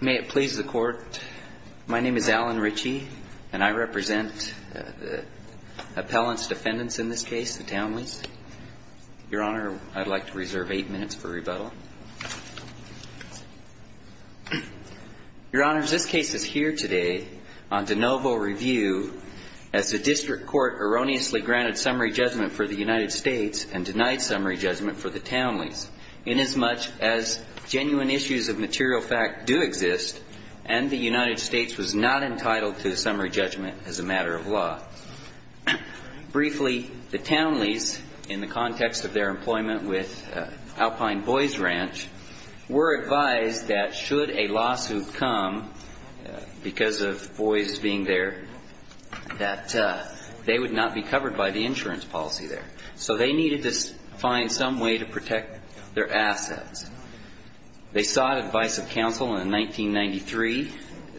May it please the Court. My name is Alan Ritchie, and I represent the appellant's defendants in this case, the Townleys. Your Honor, I'd like to reserve eight minutes for rebuttal. Your Honors, this case is here today on de novo review as the District Court erroneously granted summary judgment for the United States and denied summary judgment for the Townleys inasmuch as genuine issues of material fact do exist, and the United States was not entitled to summary judgment as a matter of law. Briefly, the Townleys, in the context of their employment with Alpine Boys Ranch, were advised that should a lawsuit come because of boys being there, that they would not be covered by the insurance policy there. So they needed to find some way to protect their assets. They sought advice of counsel, and in 1993,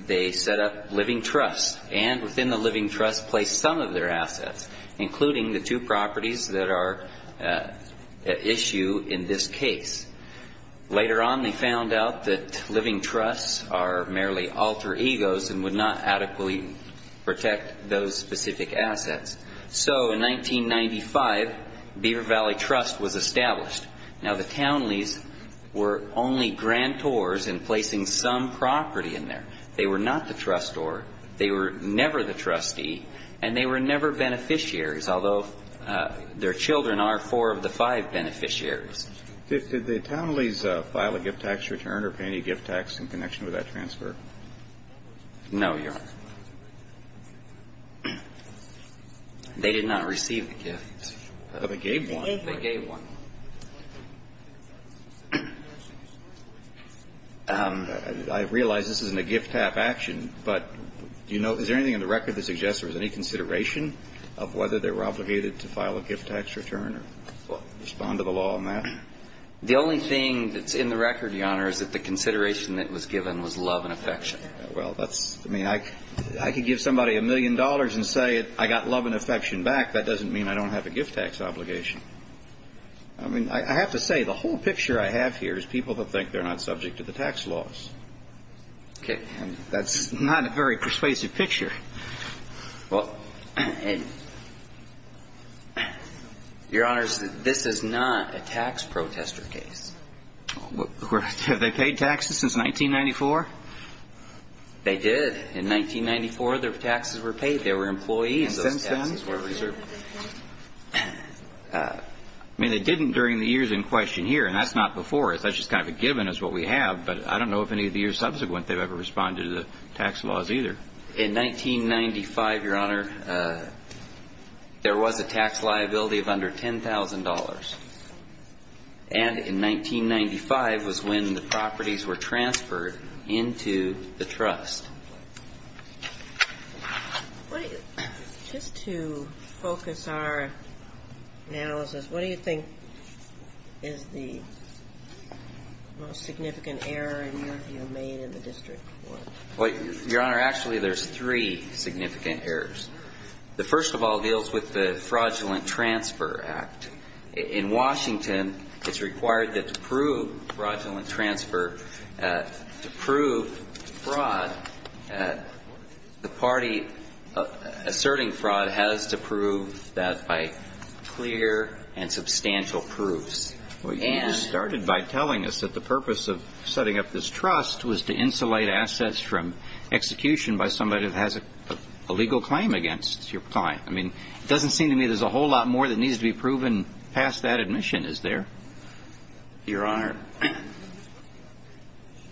they set up Living Trusts, and within the Living Trusts placed some of their assets, including the two properties that are at issue in this case. Later on, they found out that Living Trusts are merely alter egos and would not adequately protect those specific assets. So in 1995, Beaver Valley Trust was established. Now, the Townleys were only grantors in placing some property in there. They were not the trustor. They were never the trustee, and they were never beneficiaries, although their children are four of the five beneficiaries. Did the Townleys file a gift tax return or pay any gift tax in connection with that transfer? No, Your Honor. They did not receive the gift. But they gave one? They gave one. I realize this isn't a gift-tax action, but do you know, is there anything in the record that suggests there was any consideration of whether they were obligated to file a gift tax return or respond to the law on that? The only thing that's in the record, Your Honor, is that the consideration that was given was love and affection. Well, that's, I mean, I could give somebody a million dollars and say I got love and affection back. That doesn't mean I don't have a gift-tax obligation. I mean, I have to say, the whole picture I have here is people who think they're not subject to the tax laws. Okay. And that's not a very persuasive picture. Well, Your Honor, this is not a tax protester case. Have they paid taxes since 1994? They did. In 1994, their taxes were paid. They were employees, and those taxes were reserved. Since then? I mean, they didn't during the years in question here, and that's not before us. That's just kind of a given is what we have, but I don't know if any of the years subsequent they've ever responded to the tax laws either. In 1995, Your Honor, there was a tax liability of under $10,000, and in 1995 was when the properties were transferred into the trust. Just to focus our analysis, what do you think is the most significant error in your view made in the district court? Well, Your Honor, actually, there's three significant errors. The first of all deals with the Fraudulent Transfer Act. In Washington, it's required that to prove fraudulent transfer, to prove fraud, the party asserting fraud has to prove that by clear and substantial proofs. And you started by telling us that the purpose of setting up this trust was to insulate assets from execution by somebody that has a legal claim against your client. I mean, it doesn't seem to me there's a whole lot more that needs to be proven past that admission, is there? Your Honor,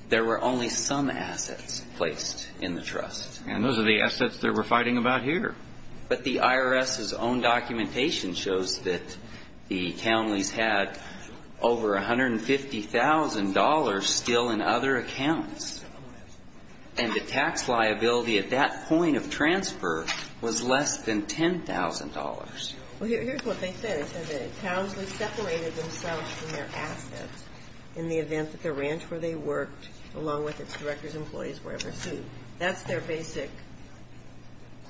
there were only some assets placed in the trust. And those are the assets that we're fighting about here. But the IRS's own documentation shows that the counties had over $150,000 still in other accounts, and the tax liability at that point of transfer was less than $10,000. Well, here's what they said. They said that Townsley separated themselves from their assets in the event that the ranch where they worked along with its directors and employees were ever sued. That's their basic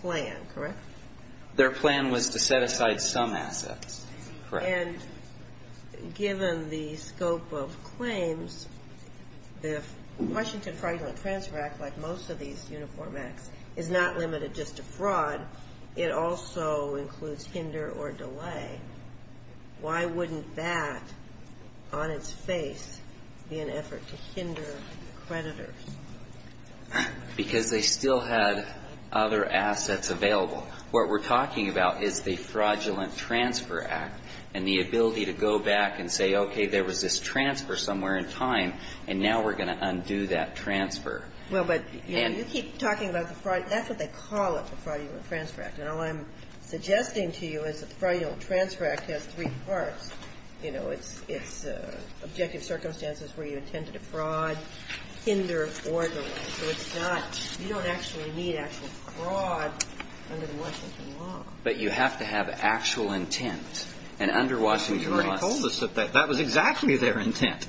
plan, correct? Their plan was to set aside some assets, correct. And given the scope of claims, the Washington Fraudulent Transfer Act, like most of these uniform acts, is not limited just to fraud. It also includes hinder or delay. Why wouldn't that, on its face, be an effort to hinder creditors? Because they still had other assets available. What we're talking about is the Fraudulent Transfer Act and the ability to go back and say, okay, there was this transfer somewhere in time, and now we're going to undo that transfer. Well, but you keep talking about the fraud. That's what they call it, the Fraudulent Transfer Act. And all I'm suggesting to you is that the Fraudulent Transfer Act has three parts. You know, it's objective circumstances where you intend to defraud, hinder, or delay. You don't actually need actual fraud under the Washington Law. But you have to have actual intent. And under Washington Law, that was exactly their intent.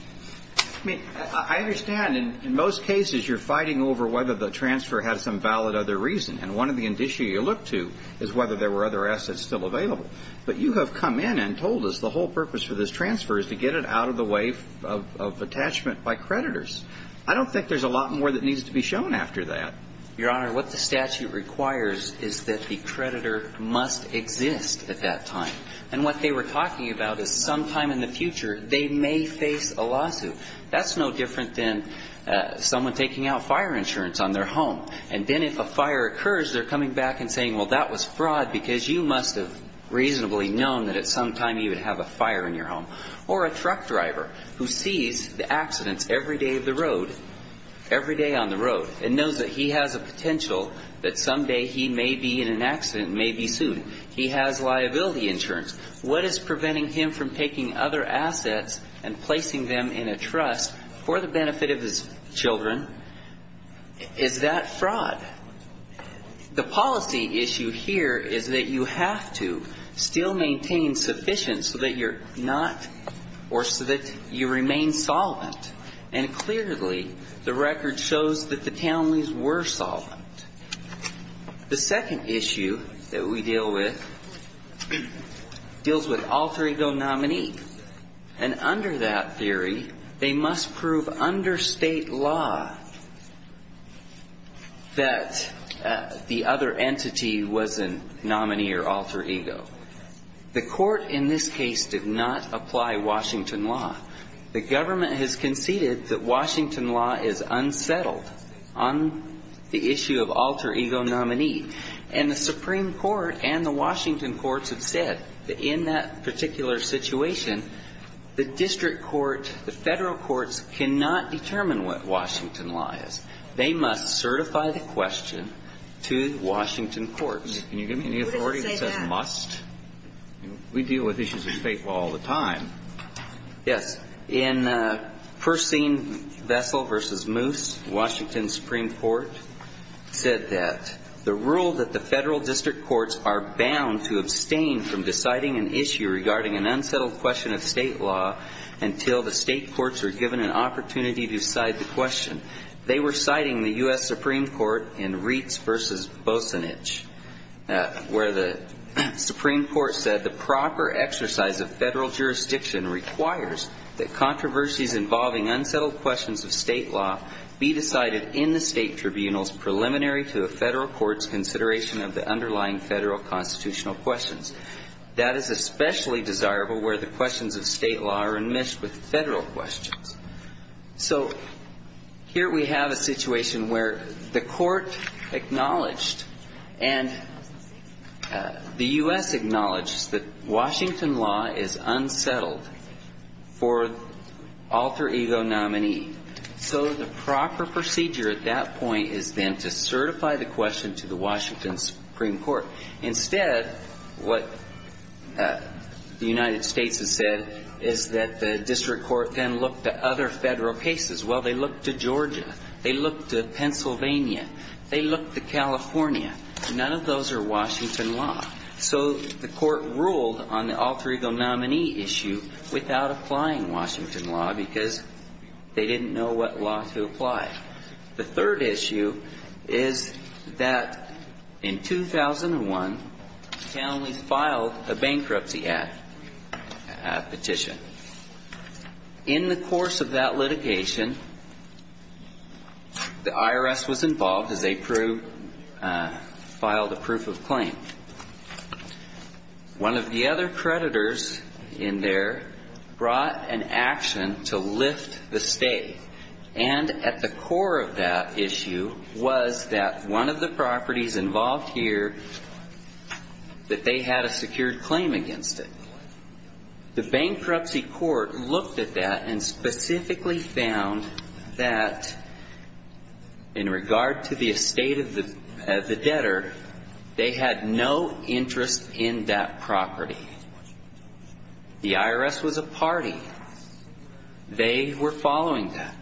I mean, I understand. In most cases, you're fighting over whether the transfer had some valid other reason. And one of the indicia you look to is whether there were other assets still available. But you have come in and told us the whole purpose for this transfer is to get it out of the way of attachment by creditors. I don't think there's a lot more that needs to be shown after that. Your Honor, what the statute requires is that the creditor must exist at that time. And what they were talking about is sometime in the future, they may face a lawsuit. That's no different than someone taking out fire insurance on their home. And then if a fire occurs, they're coming back and saying, well, that was fraud because you must have reasonably known that at some time you would have a fire in your home. Or a truck driver who sees the accidents every day of the road, every day on the road, and knows that he has a potential that someday he may be in an accident, may be sued. He has liability insurance. What is preventing him from taking other assets and placing them in a trust for the benefit of his children? Is that fraud? The policy issue here is that you have to still maintain sufficient so that you're not or so that you remain solvent. And clearly, the record shows that the Townley's were solvent. The second issue that we deal with deals with alter ego nominee. And under that theory, they must prove under state law that the other entity was a nominee or alter ego. The court in this case did not apply Washington law. The government has conceded that Washington law is unsettled on the issue of alter ego nominee. And the Supreme Court and the Washington courts have said that in that particular situation, the district court, the Federal courts cannot determine what Washington law is. They must certify the question to the Washington courts. Can you give me any authority that says must? We deal with issues of state law all the time. Yes. In Percine Vessel v. Moose, Washington Supreme Court said that the rule that the Federal district courts are bound to abstain from deciding an issue regarding an unsettled question of state law until the state courts are given an opportunity to cite the question. They were citing the U.S. Supreme Court in Reitz v. Bosenich, where the Supreme Court said the proper exercise of Federal jurisdiction requires that controversies involving unsettled questions of state law be decided in the state tribunals preliminary to the Federal courts' consideration of the underlying Federal constitutional questions. That is especially desirable where the questions of state law are enmeshed with Federal questions. So here we have a situation where the court acknowledged, and the U.S. acknowledged, that Washington law is unsettled for alter ego nominee. So the proper procedure at that point is then to certify the question to the Washington Supreme Court. Instead, what the United States has said is that the district court then looked to other Federal cases. Well, they looked to Georgia. They looked to Pennsylvania. They looked to California. None of those are Washington law. So the court ruled on the alter ego nominee issue without applying Washington law because they didn't know what law to apply. The third issue is that in 2001, Cal only filed a bankruptcy act petition. In the course of that litigation, the IRS was involved, as they proved, filed a proof of claim. One of the other creditors in there brought an action to lift the state. And at the core of that issue was that one of the properties involved here, that they had a secured claim against it. The bankruptcy court looked at that and specifically found that in regard to the estate of the debtor, they had no interest in that property. The IRS was a party. They were following that.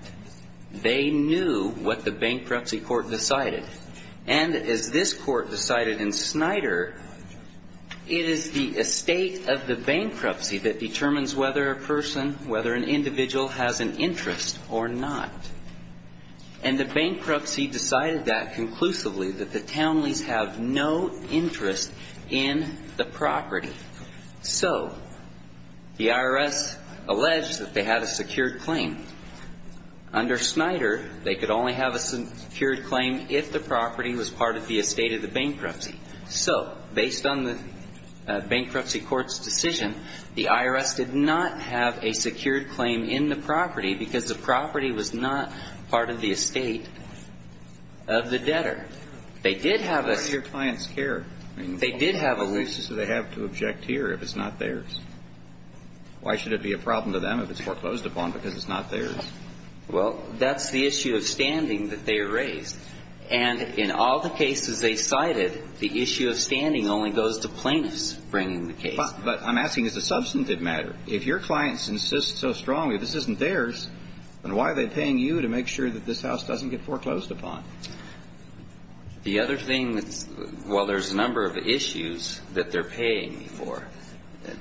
They knew what the bankruptcy court decided. And as this court decided in Snyder, it is the estate of the bankruptcy that determines whether a person, whether an individual, has an interest or not. And the bankruptcy decided that conclusively, that the townies have no interest in the property. So the IRS alleged that they had a secured claim. Under Snyder, they could only have a secured claim if the property was part of the estate of the bankruptcy. So based on the bankruptcy court's decision, the IRS did not have a secured claim in the property because the property was not part of the estate of the debtor. They did have a... Why do your clients care? They did have a... What basis do they have to object here if it's not theirs? Why should it be a problem to them if it's foreclosed upon because it's not theirs? Well, that's the issue of standing that they raised. And in all the cases they cited, the issue of standing only goes to plaintiffs bringing the case. But I'm asking as a substantive matter. If your clients insist so strongly this isn't theirs, then why are they paying you to make sure that this house doesn't get foreclosed upon? The other thing that's... Well, there's a number of issues that they're paying me for.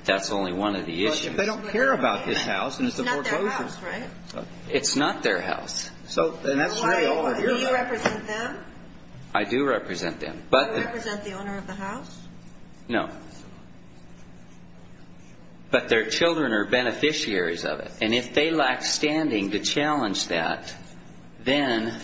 That's only one of the issues. But if they don't care about this house and it's a foreclosure... It's not their house, right? It's not their house. So then that's really all of your... Do you represent them? I do represent them. Do you represent the owner of the house? No. But their children are beneficiaries of it. And if they lack standing to challenge that, then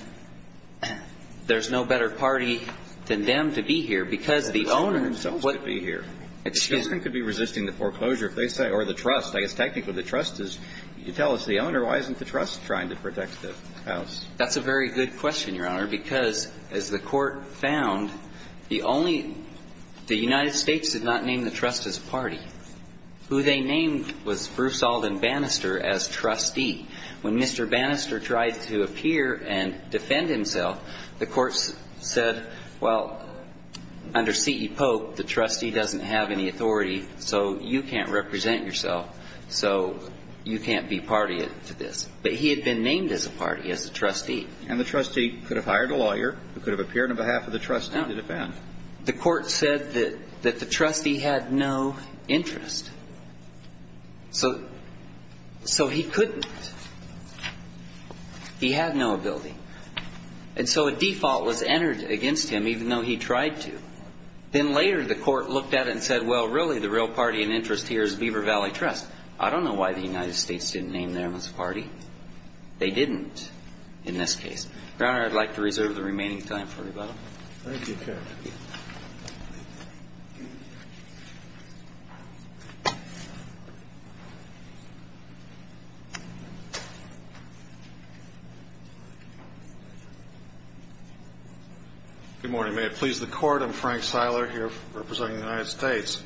there's no better party than them to be here. Because the owner... The children themselves could be here. Excuse me. The children could be resisting the foreclosure if they say, or the trust. I guess technically the trust is, you tell us the owner. Why isn't the trust trying to protect the house? That's a very good question, Your Honor, because as the Court found, the only, the United States did not name the trust as a party. Who they named was Bruce Alden Bannister as trustee. When Mr. Bannister tried to appear and defend himself, the Court said, well, under C.E. Pope, the trustee doesn't have any authority, so you can't represent yourself, so you can't be party to this. But he had been named as a party, as a trustee. And the trustee could have hired a lawyer who could have appeared on behalf of the trustee to defend. The Court said that the trustee had no interest. So he couldn't. He had no ability. And so a default was entered against him, even though he tried to. Then later the Court looked at it and said, well, really, the real party in interest here is Beaver Valley Trust. I don't know why the United States didn't name them as a party. They didn't in this case. Your Honor, I'd like to reserve the remaining time for rebuttal. Thank you, counsel. Good morning. May it please the Court. I'm Frank Seiler here representing the United States.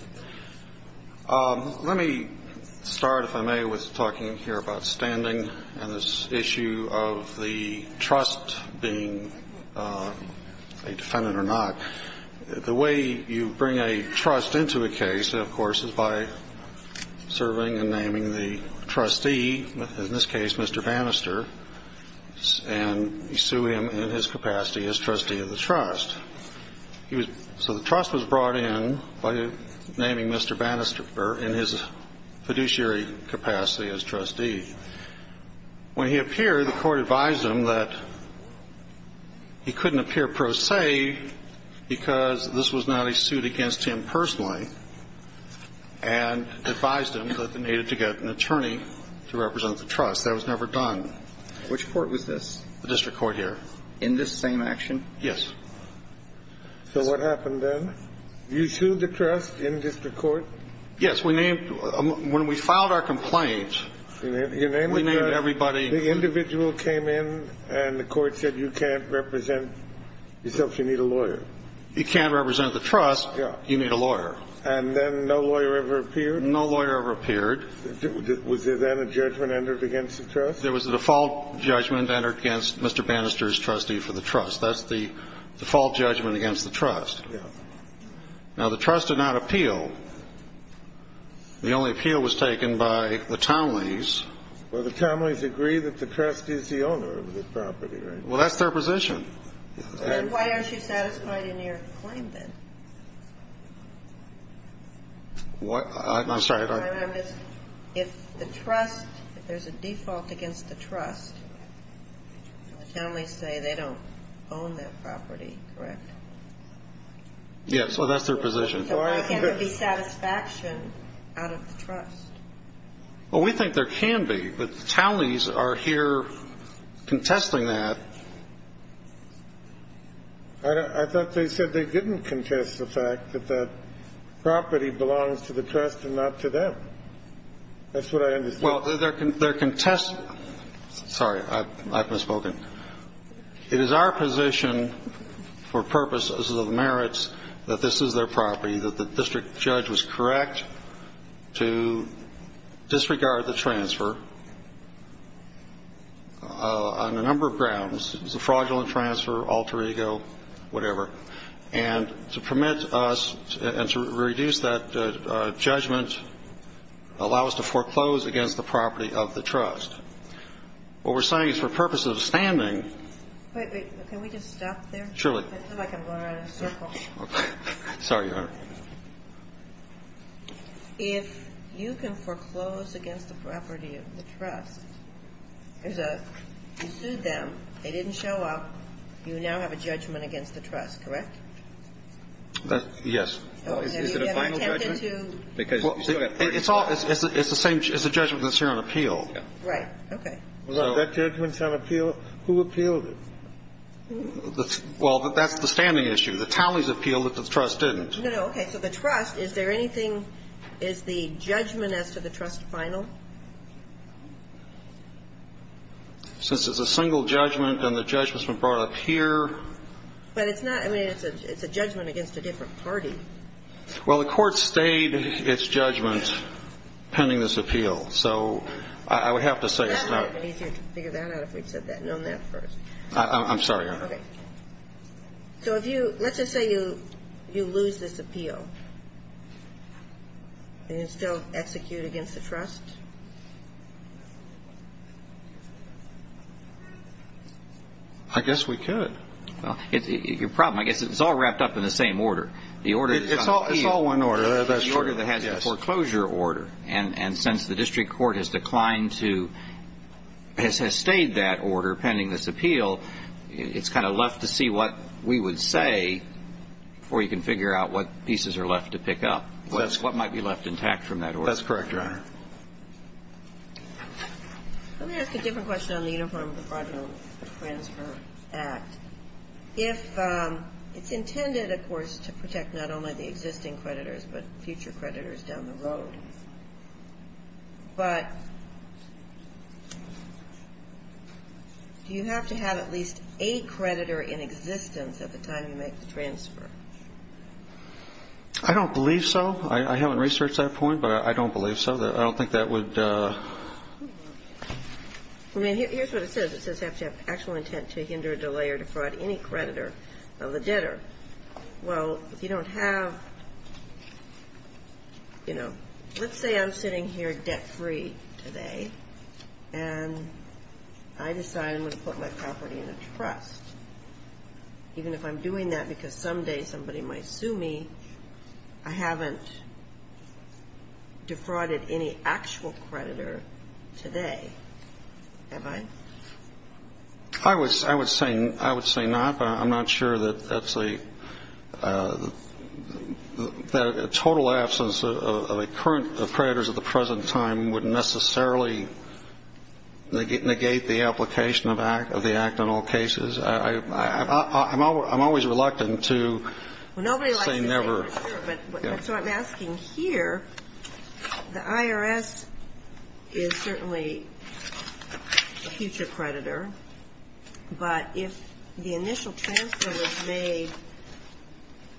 Let me start, if I may, with talking here about standing and this issue of the trust being a defendant or not. The way you bring a trust into a case, of course, is by serving and naming the trustee, in this case Mr. Bannister, and you sue him in his capacity as trustee of the trust. So the trust was brought in by naming Mr. Bannister in his fiduciary capacity as trustee. When he appeared, the Court advised him that he couldn't appear pro se because this was not a suit against him personally and advised him that they needed to get an attorney to represent the trust. That was never done. Which court was this? The district court here. In this same action? Yes. So what happened then? You sued the trust in district court? Yes. When we filed our complaint, we named everybody. The individual came in and the Court said you can't represent yourself, you need a lawyer. You can't represent the trust, you need a lawyer. And then no lawyer ever appeared? No lawyer ever appeared. Was there then a judgment entered against the trust? There was a default judgment entered against Mr. Bannister's trustee for the trust. That's the default judgment against the trust. Yes. Now, the trust did not appeal. The only appeal was taken by the Tomleys. Well, the Tomleys agree that the trust is the owner of the property, right? Well, that's their position. Then why aren't you satisfied in your claim then? I'm sorry. If the trust, if there's a default against the trust, the Tomleys say they don't own that property, correct? Yes. Well, that's their position. So why can't there be satisfaction out of the trust? Well, we think there can be, but the Tomleys are here contesting that. I thought they said they didn't contest the fact that that property belongs to the trust and not to them. That's what I understood. Well, they're contesting. Sorry, I've misspoken. It is our position for purposes of merits that this is their property, that the district judge was correct to disregard the transfer on a number of grounds. It was a fraudulent transfer, alter ego, whatever. And to permit us and to reduce that judgment, allow us to foreclose against the property of the trust. What we're saying is for purposes of standing. Wait, wait. Can we just stop there? Surely. Sorry, Your Honor. If you can foreclose against the property of the trust, you sued them, they didn't show up, you now have a judgment against the trust, correct? Yes. Is it a final judgment? It's the same as the judgment that's here on appeal. Right. Okay. That judgment's on appeal? Who appealed it? Well, that's the standing issue. The Tomleys appealed it, the trust didn't. No, no, okay. So the trust, is there anything, is the judgment as to the trust final? Since it's a single judgment and the judgment's been brought up here. But it's not, I mean, it's a judgment against a different party. Well, the court stayed its judgment pending this appeal. So I would have to say it's not. That might have been easier to figure that out if we'd known that first. I'm sorry, Your Honor. Okay. So if you, let's just say you lose this appeal, and you still execute against the trust? I guess we could. Well, your problem, I guess it's all wrapped up in the same order. The order that's on appeal. It's all one order, that's true. The order that has the foreclosure order. And since the district court has declined to, has stayed that order pending this appeal, it's kind of left to see what we would say before you can figure out what pieces are left to pick up. What might be left intact from that order. That's correct, Your Honor. Let me ask a different question on the Uniform Departmental Transfer Act. If it's intended, of course, to protect not only the existing creditors, but future creditors down the road. But do you have to have at least a creditor in existence at the time you make the transfer? I don't believe so. I haven't researched that point, but I don't believe so. I don't think that would. I mean, here's what it says. It says you have to have actual intent to hinder, delay, or defraud any creditor of the debtor. Well, if you don't have, you know, let's say I'm sitting here debt-free today, and I decide I'm going to put my property in a trust. Even if I'm doing that because someday somebody might sue me, I haven't defrauded any actual creditor today, have I? I would say not, but I'm not sure that a total absence of a current creditor at the present time would necessarily negate the application of the act in all cases. I'm always reluctant to say never. So I'm asking here, the IRS is certainly a future creditor, but if the initial transfer was made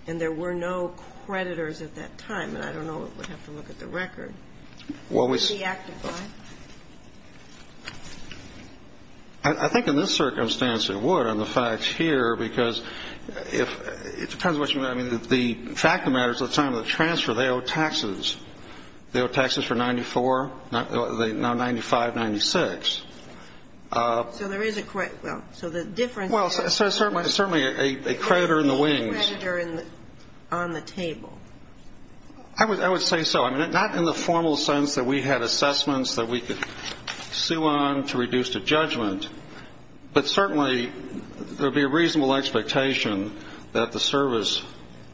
and there were no creditors at that time, and I don't know, we'd have to look at the record, would the act apply? I think in this circumstance it would on the facts here, because it depends on what you mean. I mean, the fact of the matter is at the time of the transfer, they owe taxes. They owe taxes for 94, now 95, 96. So there is a credit. Well, so the difference is. Well, certainly a creditor in the wings. There would be a creditor on the table. I would say so. I mean, not in the formal sense that we had assessments that we could sue on to reduce the judgment, but certainly there would be a reasonable expectation that the service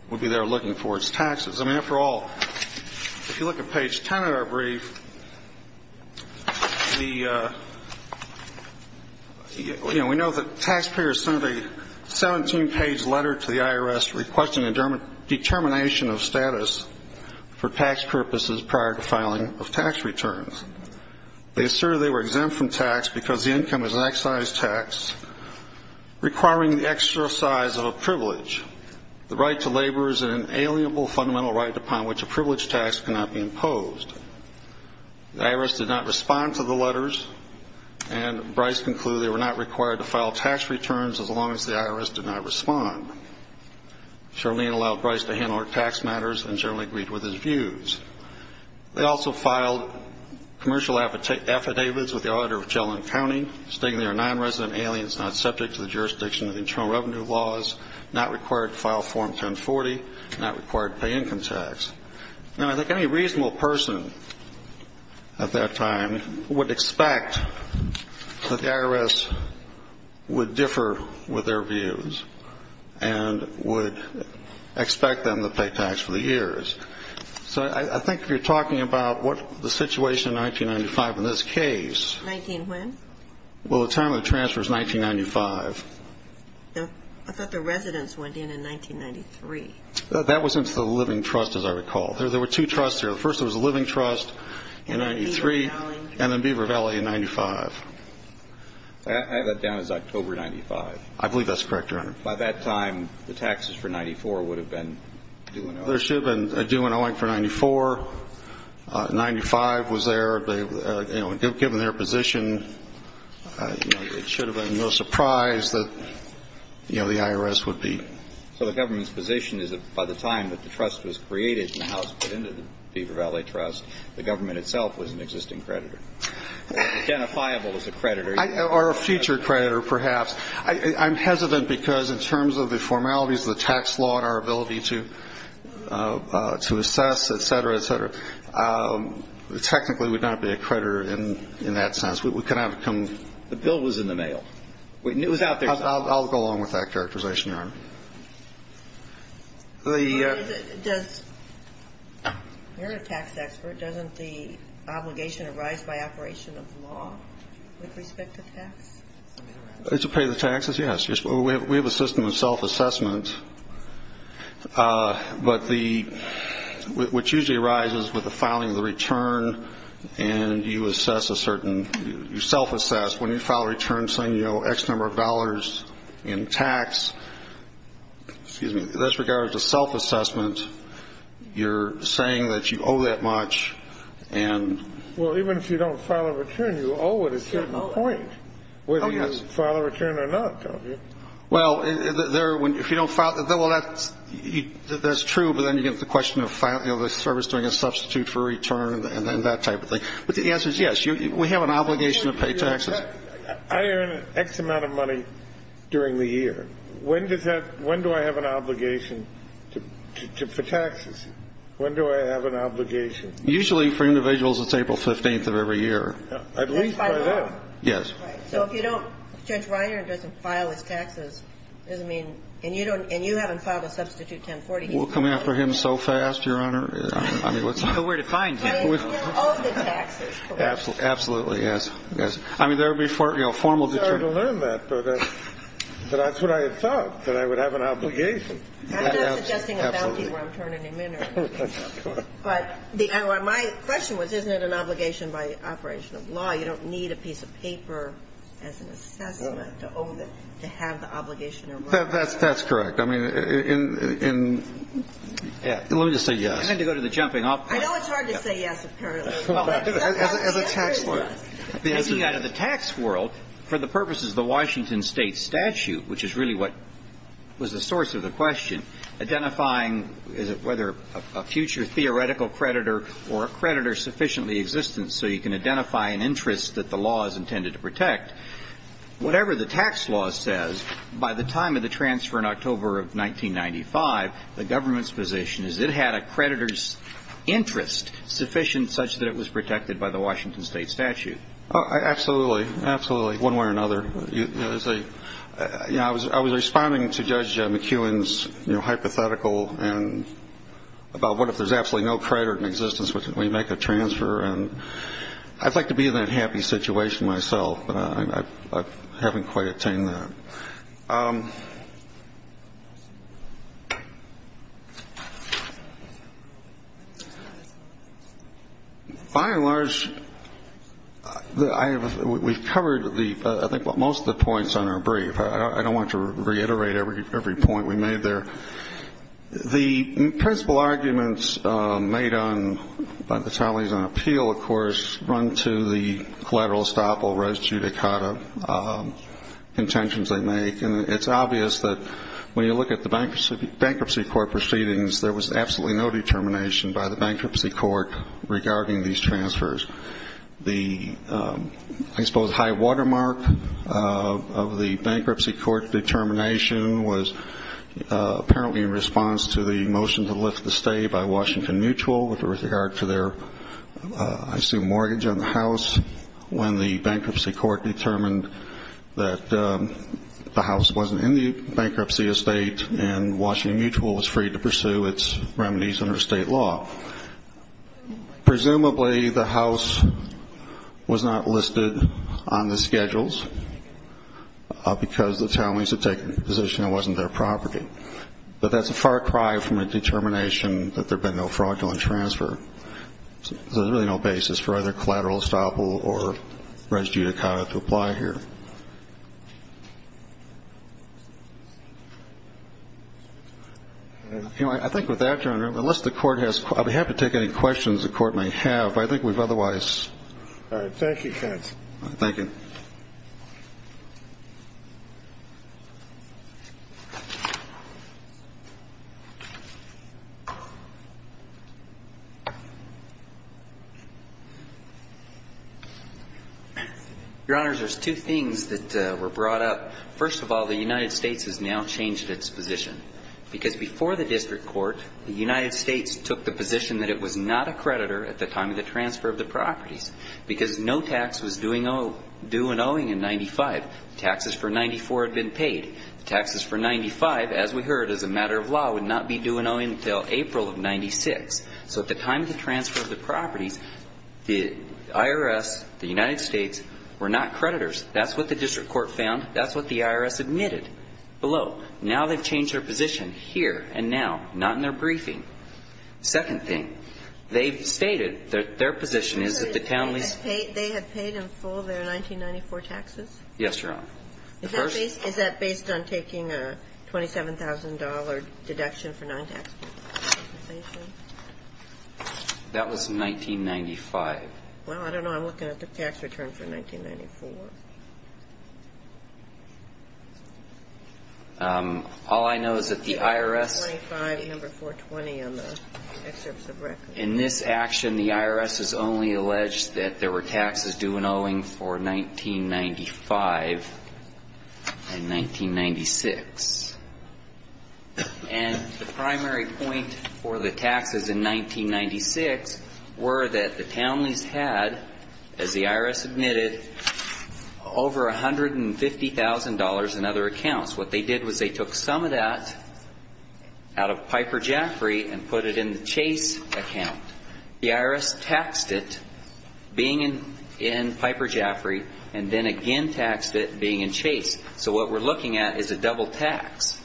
would be there looking for its taxes. I mean, after all, if you look at page 10 of our brief, the, you know, we know that taxpayers sent a 17-page letter to the IRS requesting a determination of status for tax purposes prior to filing of tax returns. They asserted they were exempt from tax because the income is an excise tax requiring the extra size of a privilege. The right to labor is an inalienable fundamental right upon which a privilege tax cannot be imposed. The IRS did not respond to the letters, and Bryce concluded they were not required to file tax returns as long as the IRS did not respond. Charlene allowed Bryce to handle her tax matters and generally agreed with his views. They also filed commercial affidavits with the auditor of Chelan County, stating they are nonresident aliens, not subject to the jurisdiction of the Internal Revenue Laws, not required to file Form 1040, not required to pay income tax. Now, I think any reasonable person at that time would expect that the IRS would differ with their views and would expect them to pay tax for the years. So I think if you're talking about what the situation in 1995 in this case. Nineteen when? Well, the time of the transfer is 1995. No, I thought the residents went in in 1993. That was into the living trust, as I recall. There were two trusts there. First, there was a living trust in 1993 and then Beaver Valley in 1995. I have that down as October 1995. I believe that's correct, Your Honor. By that time, the taxes for 1994 would have been due in Owing. There should have been a due in Owing for 1994. 1995 was there. You know, given their position, it should have been no surprise that, you know, the IRS would be. So the government's position is that by the time that the trust was created and the house put into the Beaver Valley Trust, the government itself was an existing creditor. Identifiable as a creditor. Or a future creditor, perhaps. I'm hesitant because in terms of the formalities of the tax law and our ability to assess, et cetera, et cetera, it technically would not be a creditor in that sense. We could have come. The bill was in the mail. I'll go along with that characterization, Your Honor. You're a tax expert. Doesn't the obligation arise by operation of the law with respect to tax? It's to pay the taxes, yes. We have a system of self-assessment. But what usually arises with the filing of the return and you assess a certain, you self-assess. When you file a return saying, you know, X number of dollars in tax, excuse me, that's regarded as a self-assessment, you're saying that you owe that much and... Well, even if you don't file a return, you owe it a certain point whether you file a return or not, don't you? Well, if you don't file... Well, that's true, but then you get the question of the service doing a substitute for a return and that type of thing. But the answer is yes. We have an obligation to pay taxes. I earn X amount of money during the year. When do I have an obligation for taxes? When do I have an obligation? Usually for individuals, it's April 15th of every year. At least by then. Yes. So if you don't... Judge Reiner doesn't file his taxes, doesn't mean... And you haven't filed a substitute 1040. We'll come after him so fast, Your Honor. I don't know where to find him. And he'll owe the taxes, correct? Absolutely. Yes. Yes. I mean, there would be formal... I'm sorry to learn that, but that's what I had thought, that I would have an obligation. I'm not suggesting a bounty where I'm turning him in or anything. But my question was, isn't it an obligation by operation of law? You don't need a piece of paper as an assessment to owe the... to have the obligation. That's correct. I mean, in... Let me just say yes. I need to go to the jumping off point. I know it's hard to say yes apparently. As a tax lawyer. As a tax lawyer, for the purposes of the Washington State statute, which is really what was the source of the question, identifying whether a future theoretical creditor or a creditor sufficiently existent so you can identify an interest that the law is intended to protect, whatever the tax law says, by the time of the transfer in October of 1995, the government's position is it had a creditor's interest sufficient such that it was protected by the Washington State statute. Absolutely. Absolutely. One way or another. I was responding to Judge McEwen's hypothetical about what if there's absolutely no creditor in existence, would we make a transfer? And I'd like to be in that happy situation myself, but I haven't quite attained that. By and large, we've covered I think most of the points on our brief. I don't want to reiterate every point we made there. The principal arguments made by the Talley's on appeal, of course, run to the collateral estoppel res judicata, intentions they make. And it's obvious that when you look at the bankruptcy court proceedings, there was absolutely no determination by the bankruptcy court regarding these transfers. The, I suppose, high watermark of the bankruptcy court determination was apparently in response to the motion to lift the stay by Washington Mutual with regard to their, I assume, mortgage on the house, when the bankruptcy court determined that the house wasn't in the bankruptcy estate and Washington Mutual was free to pursue its remedies under state law. Presumably the house was not listed on the schedules because the Talley's had taken a position it wasn't their property. But that's a far cry from a determination that there had been no fraudulent transfer. So there's really no basis for either collateral estoppel or res judicata to apply here. I think with that, Your Honor, unless the court has, I'll be happy to take any questions the court may have. I think we've otherwise. All right. Thank you, counsel. Thank you. Your Honors, there's two things that were brought up. First of all, the United States has now changed its position because before the district court, the United States took the position that it was not a creditor at the time of the transfer of the properties because no tax was doing, due on the property. The taxes for 94 had been paid. The taxes for 95, as we heard, as a matter of law, would not be due until April of 96. So at the time of the transfer of the properties, the IRS, the United States, were not creditors. That's what the district court found. That's what the IRS admitted below. Now they've changed their position here and now, not in their briefing. Second thing, they've stated that their position is that the county's. They had paid in full their 1994 taxes? Yes, Your Honor. The first. Is that based on taking a $27,000 deduction for non-tax compensation? That was 1995. Well, I don't know. I'm looking at the tax return for 1994. All I know is that the IRS. Number 420 on the excerpts of records. In this action, the IRS has only alleged that there were taxes due and owing for 1995 and 1996. And the primary point for the taxes in 1996 were that the Townley's had, as the IRS admitted, over $150,000 in other accounts. What they did was they took some of that out of Piper Jaffray and put it in the Chase account. The IRS taxed it being in Piper Jaffray and then again taxed it being in Chase. So what we're looking at is a double tax.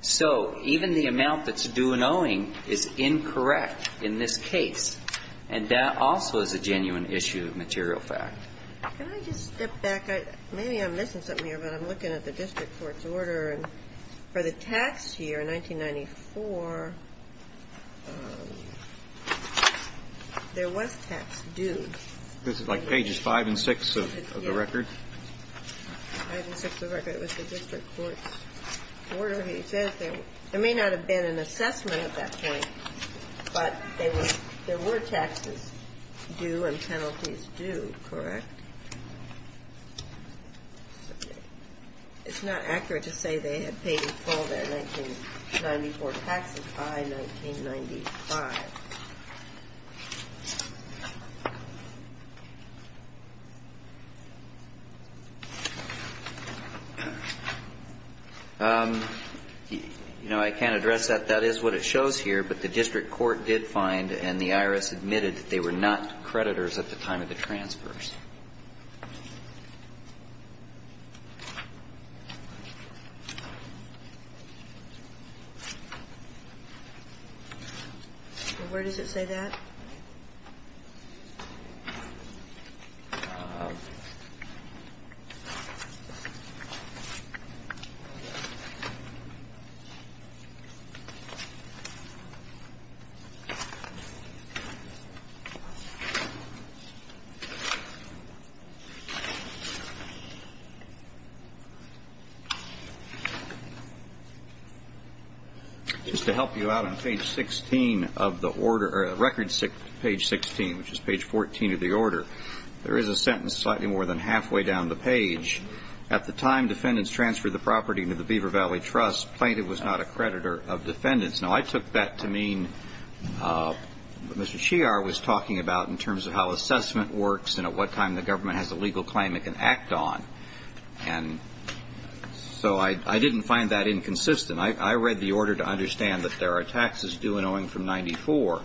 So even the amount that's due and owing is incorrect in this case. And that also is a genuine issue of material fact. Can I just step back? Maybe I'm missing something here, but I'm looking at the district court's order. For the tax year, 1994, there was tax due. This is like pages 5 and 6 of the record? 5 and 6 of the record. It was the district court's order. It says there may not have been an assessment at that point, but there were taxes due and penalties due, correct? It's not accurate to say they had paid in full their 1994 taxes by 1995. You know, I can't address that. That is what it shows here. But the district court did find and the IRS admitted that they were not creditors at the time of the transfers. Where does it say that? Just to help you out on page 16 of the record. Page 16, which is page 14 of the order. There is a sentence slightly more than halfway down the page. At the time defendants transferred the property to the Beaver Valley Trust, Plaintiff was not a creditor of defendants. Now, I took that to mean what Mr. Shear was talking about in terms of how assessment works and at what time the government has a legal claim it can act on. And so I didn't find that inconsistent. I read the order to understand that there are taxes due and owing from 94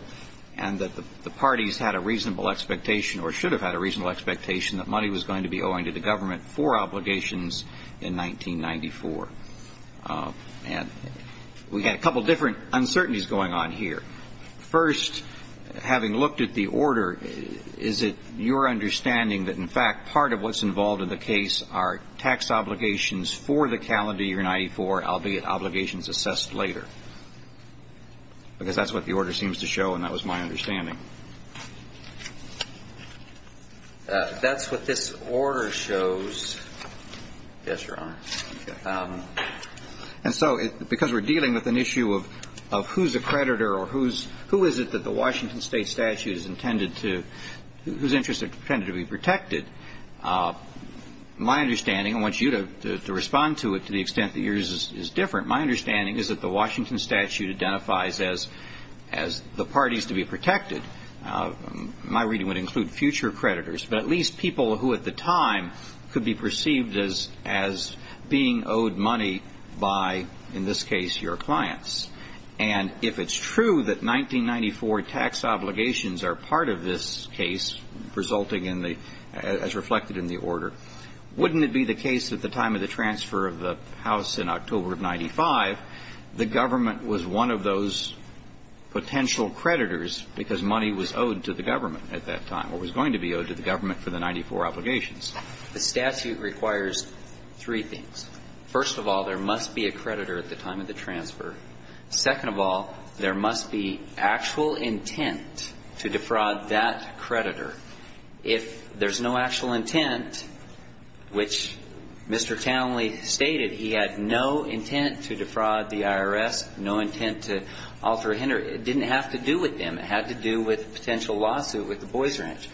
and that the parties had a reasonable expectation or should have had a reasonable expectation that money was going to be owing to the government for obligations in 1994. And we had a couple different uncertainties going on here. First, having looked at the order, is it your understanding that, in fact, part of what's involved in the case are tax obligations for the calendar year 94, albeit obligations assessed later? Because that's what the order seems to show, and that was my understanding. That's what this order shows. Yes, Your Honor. And so because we're dealing with an issue of who's a creditor or who is it that the Washington State statute is intended to be protected, my understanding, I want you to respond to it to the extent that yours is different, my understanding is that the Washington statute identifies as the parties to be protected. My reading would include future creditors, but at least people who at the time could be perceived as being owed money by, in this case, your clients. And if it's true that 1994 tax obligations are part of this case, resulting in the as reflected in the order, wouldn't it be the case at the time of the transfer of the house in October of 95, the government was one of those potential creditors because money was owed to the government at that time, or was going to be owed to the government for the 94 obligations? The statute requires three things. First of all, there must be a creditor at the time of the transfer. Second of all, there must be actual intent to defraud that creditor. If there's no actual intent, which Mr. Townley stated he had no intent to defraud the IRS, no intent to alter or hinder, it didn't have to do with them. It had to do with a potential lawsuit with the Boys Ranch.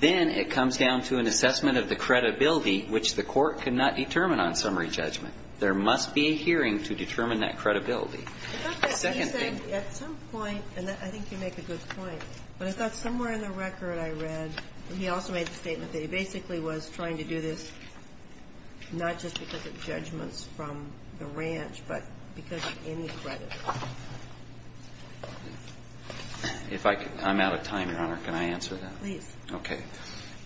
Then it comes down to an assessment of the credibility, which the Court could not determine on summary judgment. There must be a hearing to determine that credibility. The second thing you said at some point, and I think you make a good point, but I thought somewhere in the record I read, and he also made the statement that he basically was trying to do this not just because of judgments from the ranch, but because of any creditor. If I can, I'm out of time, Your Honor. Can I answer that? Please. Okay.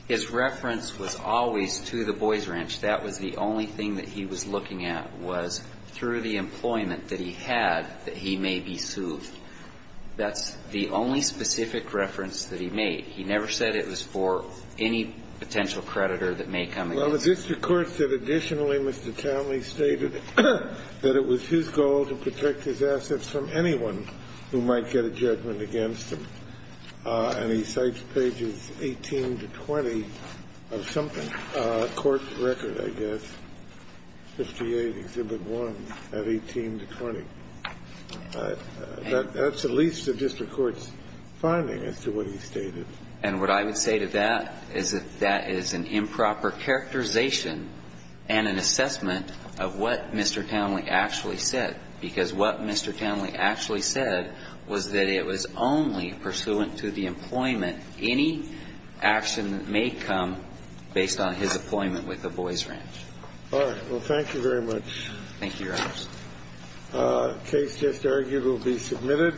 His reference was always to the Boys Ranch. That was the only thing that he was looking at, was through the employment that he had that he may be sued. That's the only specific reference that he made. He never said it was for any potential creditor that may come against him. Well, this record said additionally Mr. Townley stated that it was his goal to protect his assets from anyone who might get a judgment against him. And he cites pages 18 to 20 of something, court record, I guess, 58, Exhibit 1, at 18 to 20. That's at least the district court's finding as to what he stated. And what I would say to that is that that is an improper characterization and an assessment of what Mr. Townley actually said, because what Mr. Townley actually said was that it was only pursuant to the employment. Any action that may come based on his employment with the Boys Ranch. All right. Well, thank you very much. Thank you, Your Honor. The case just argued will be submitted.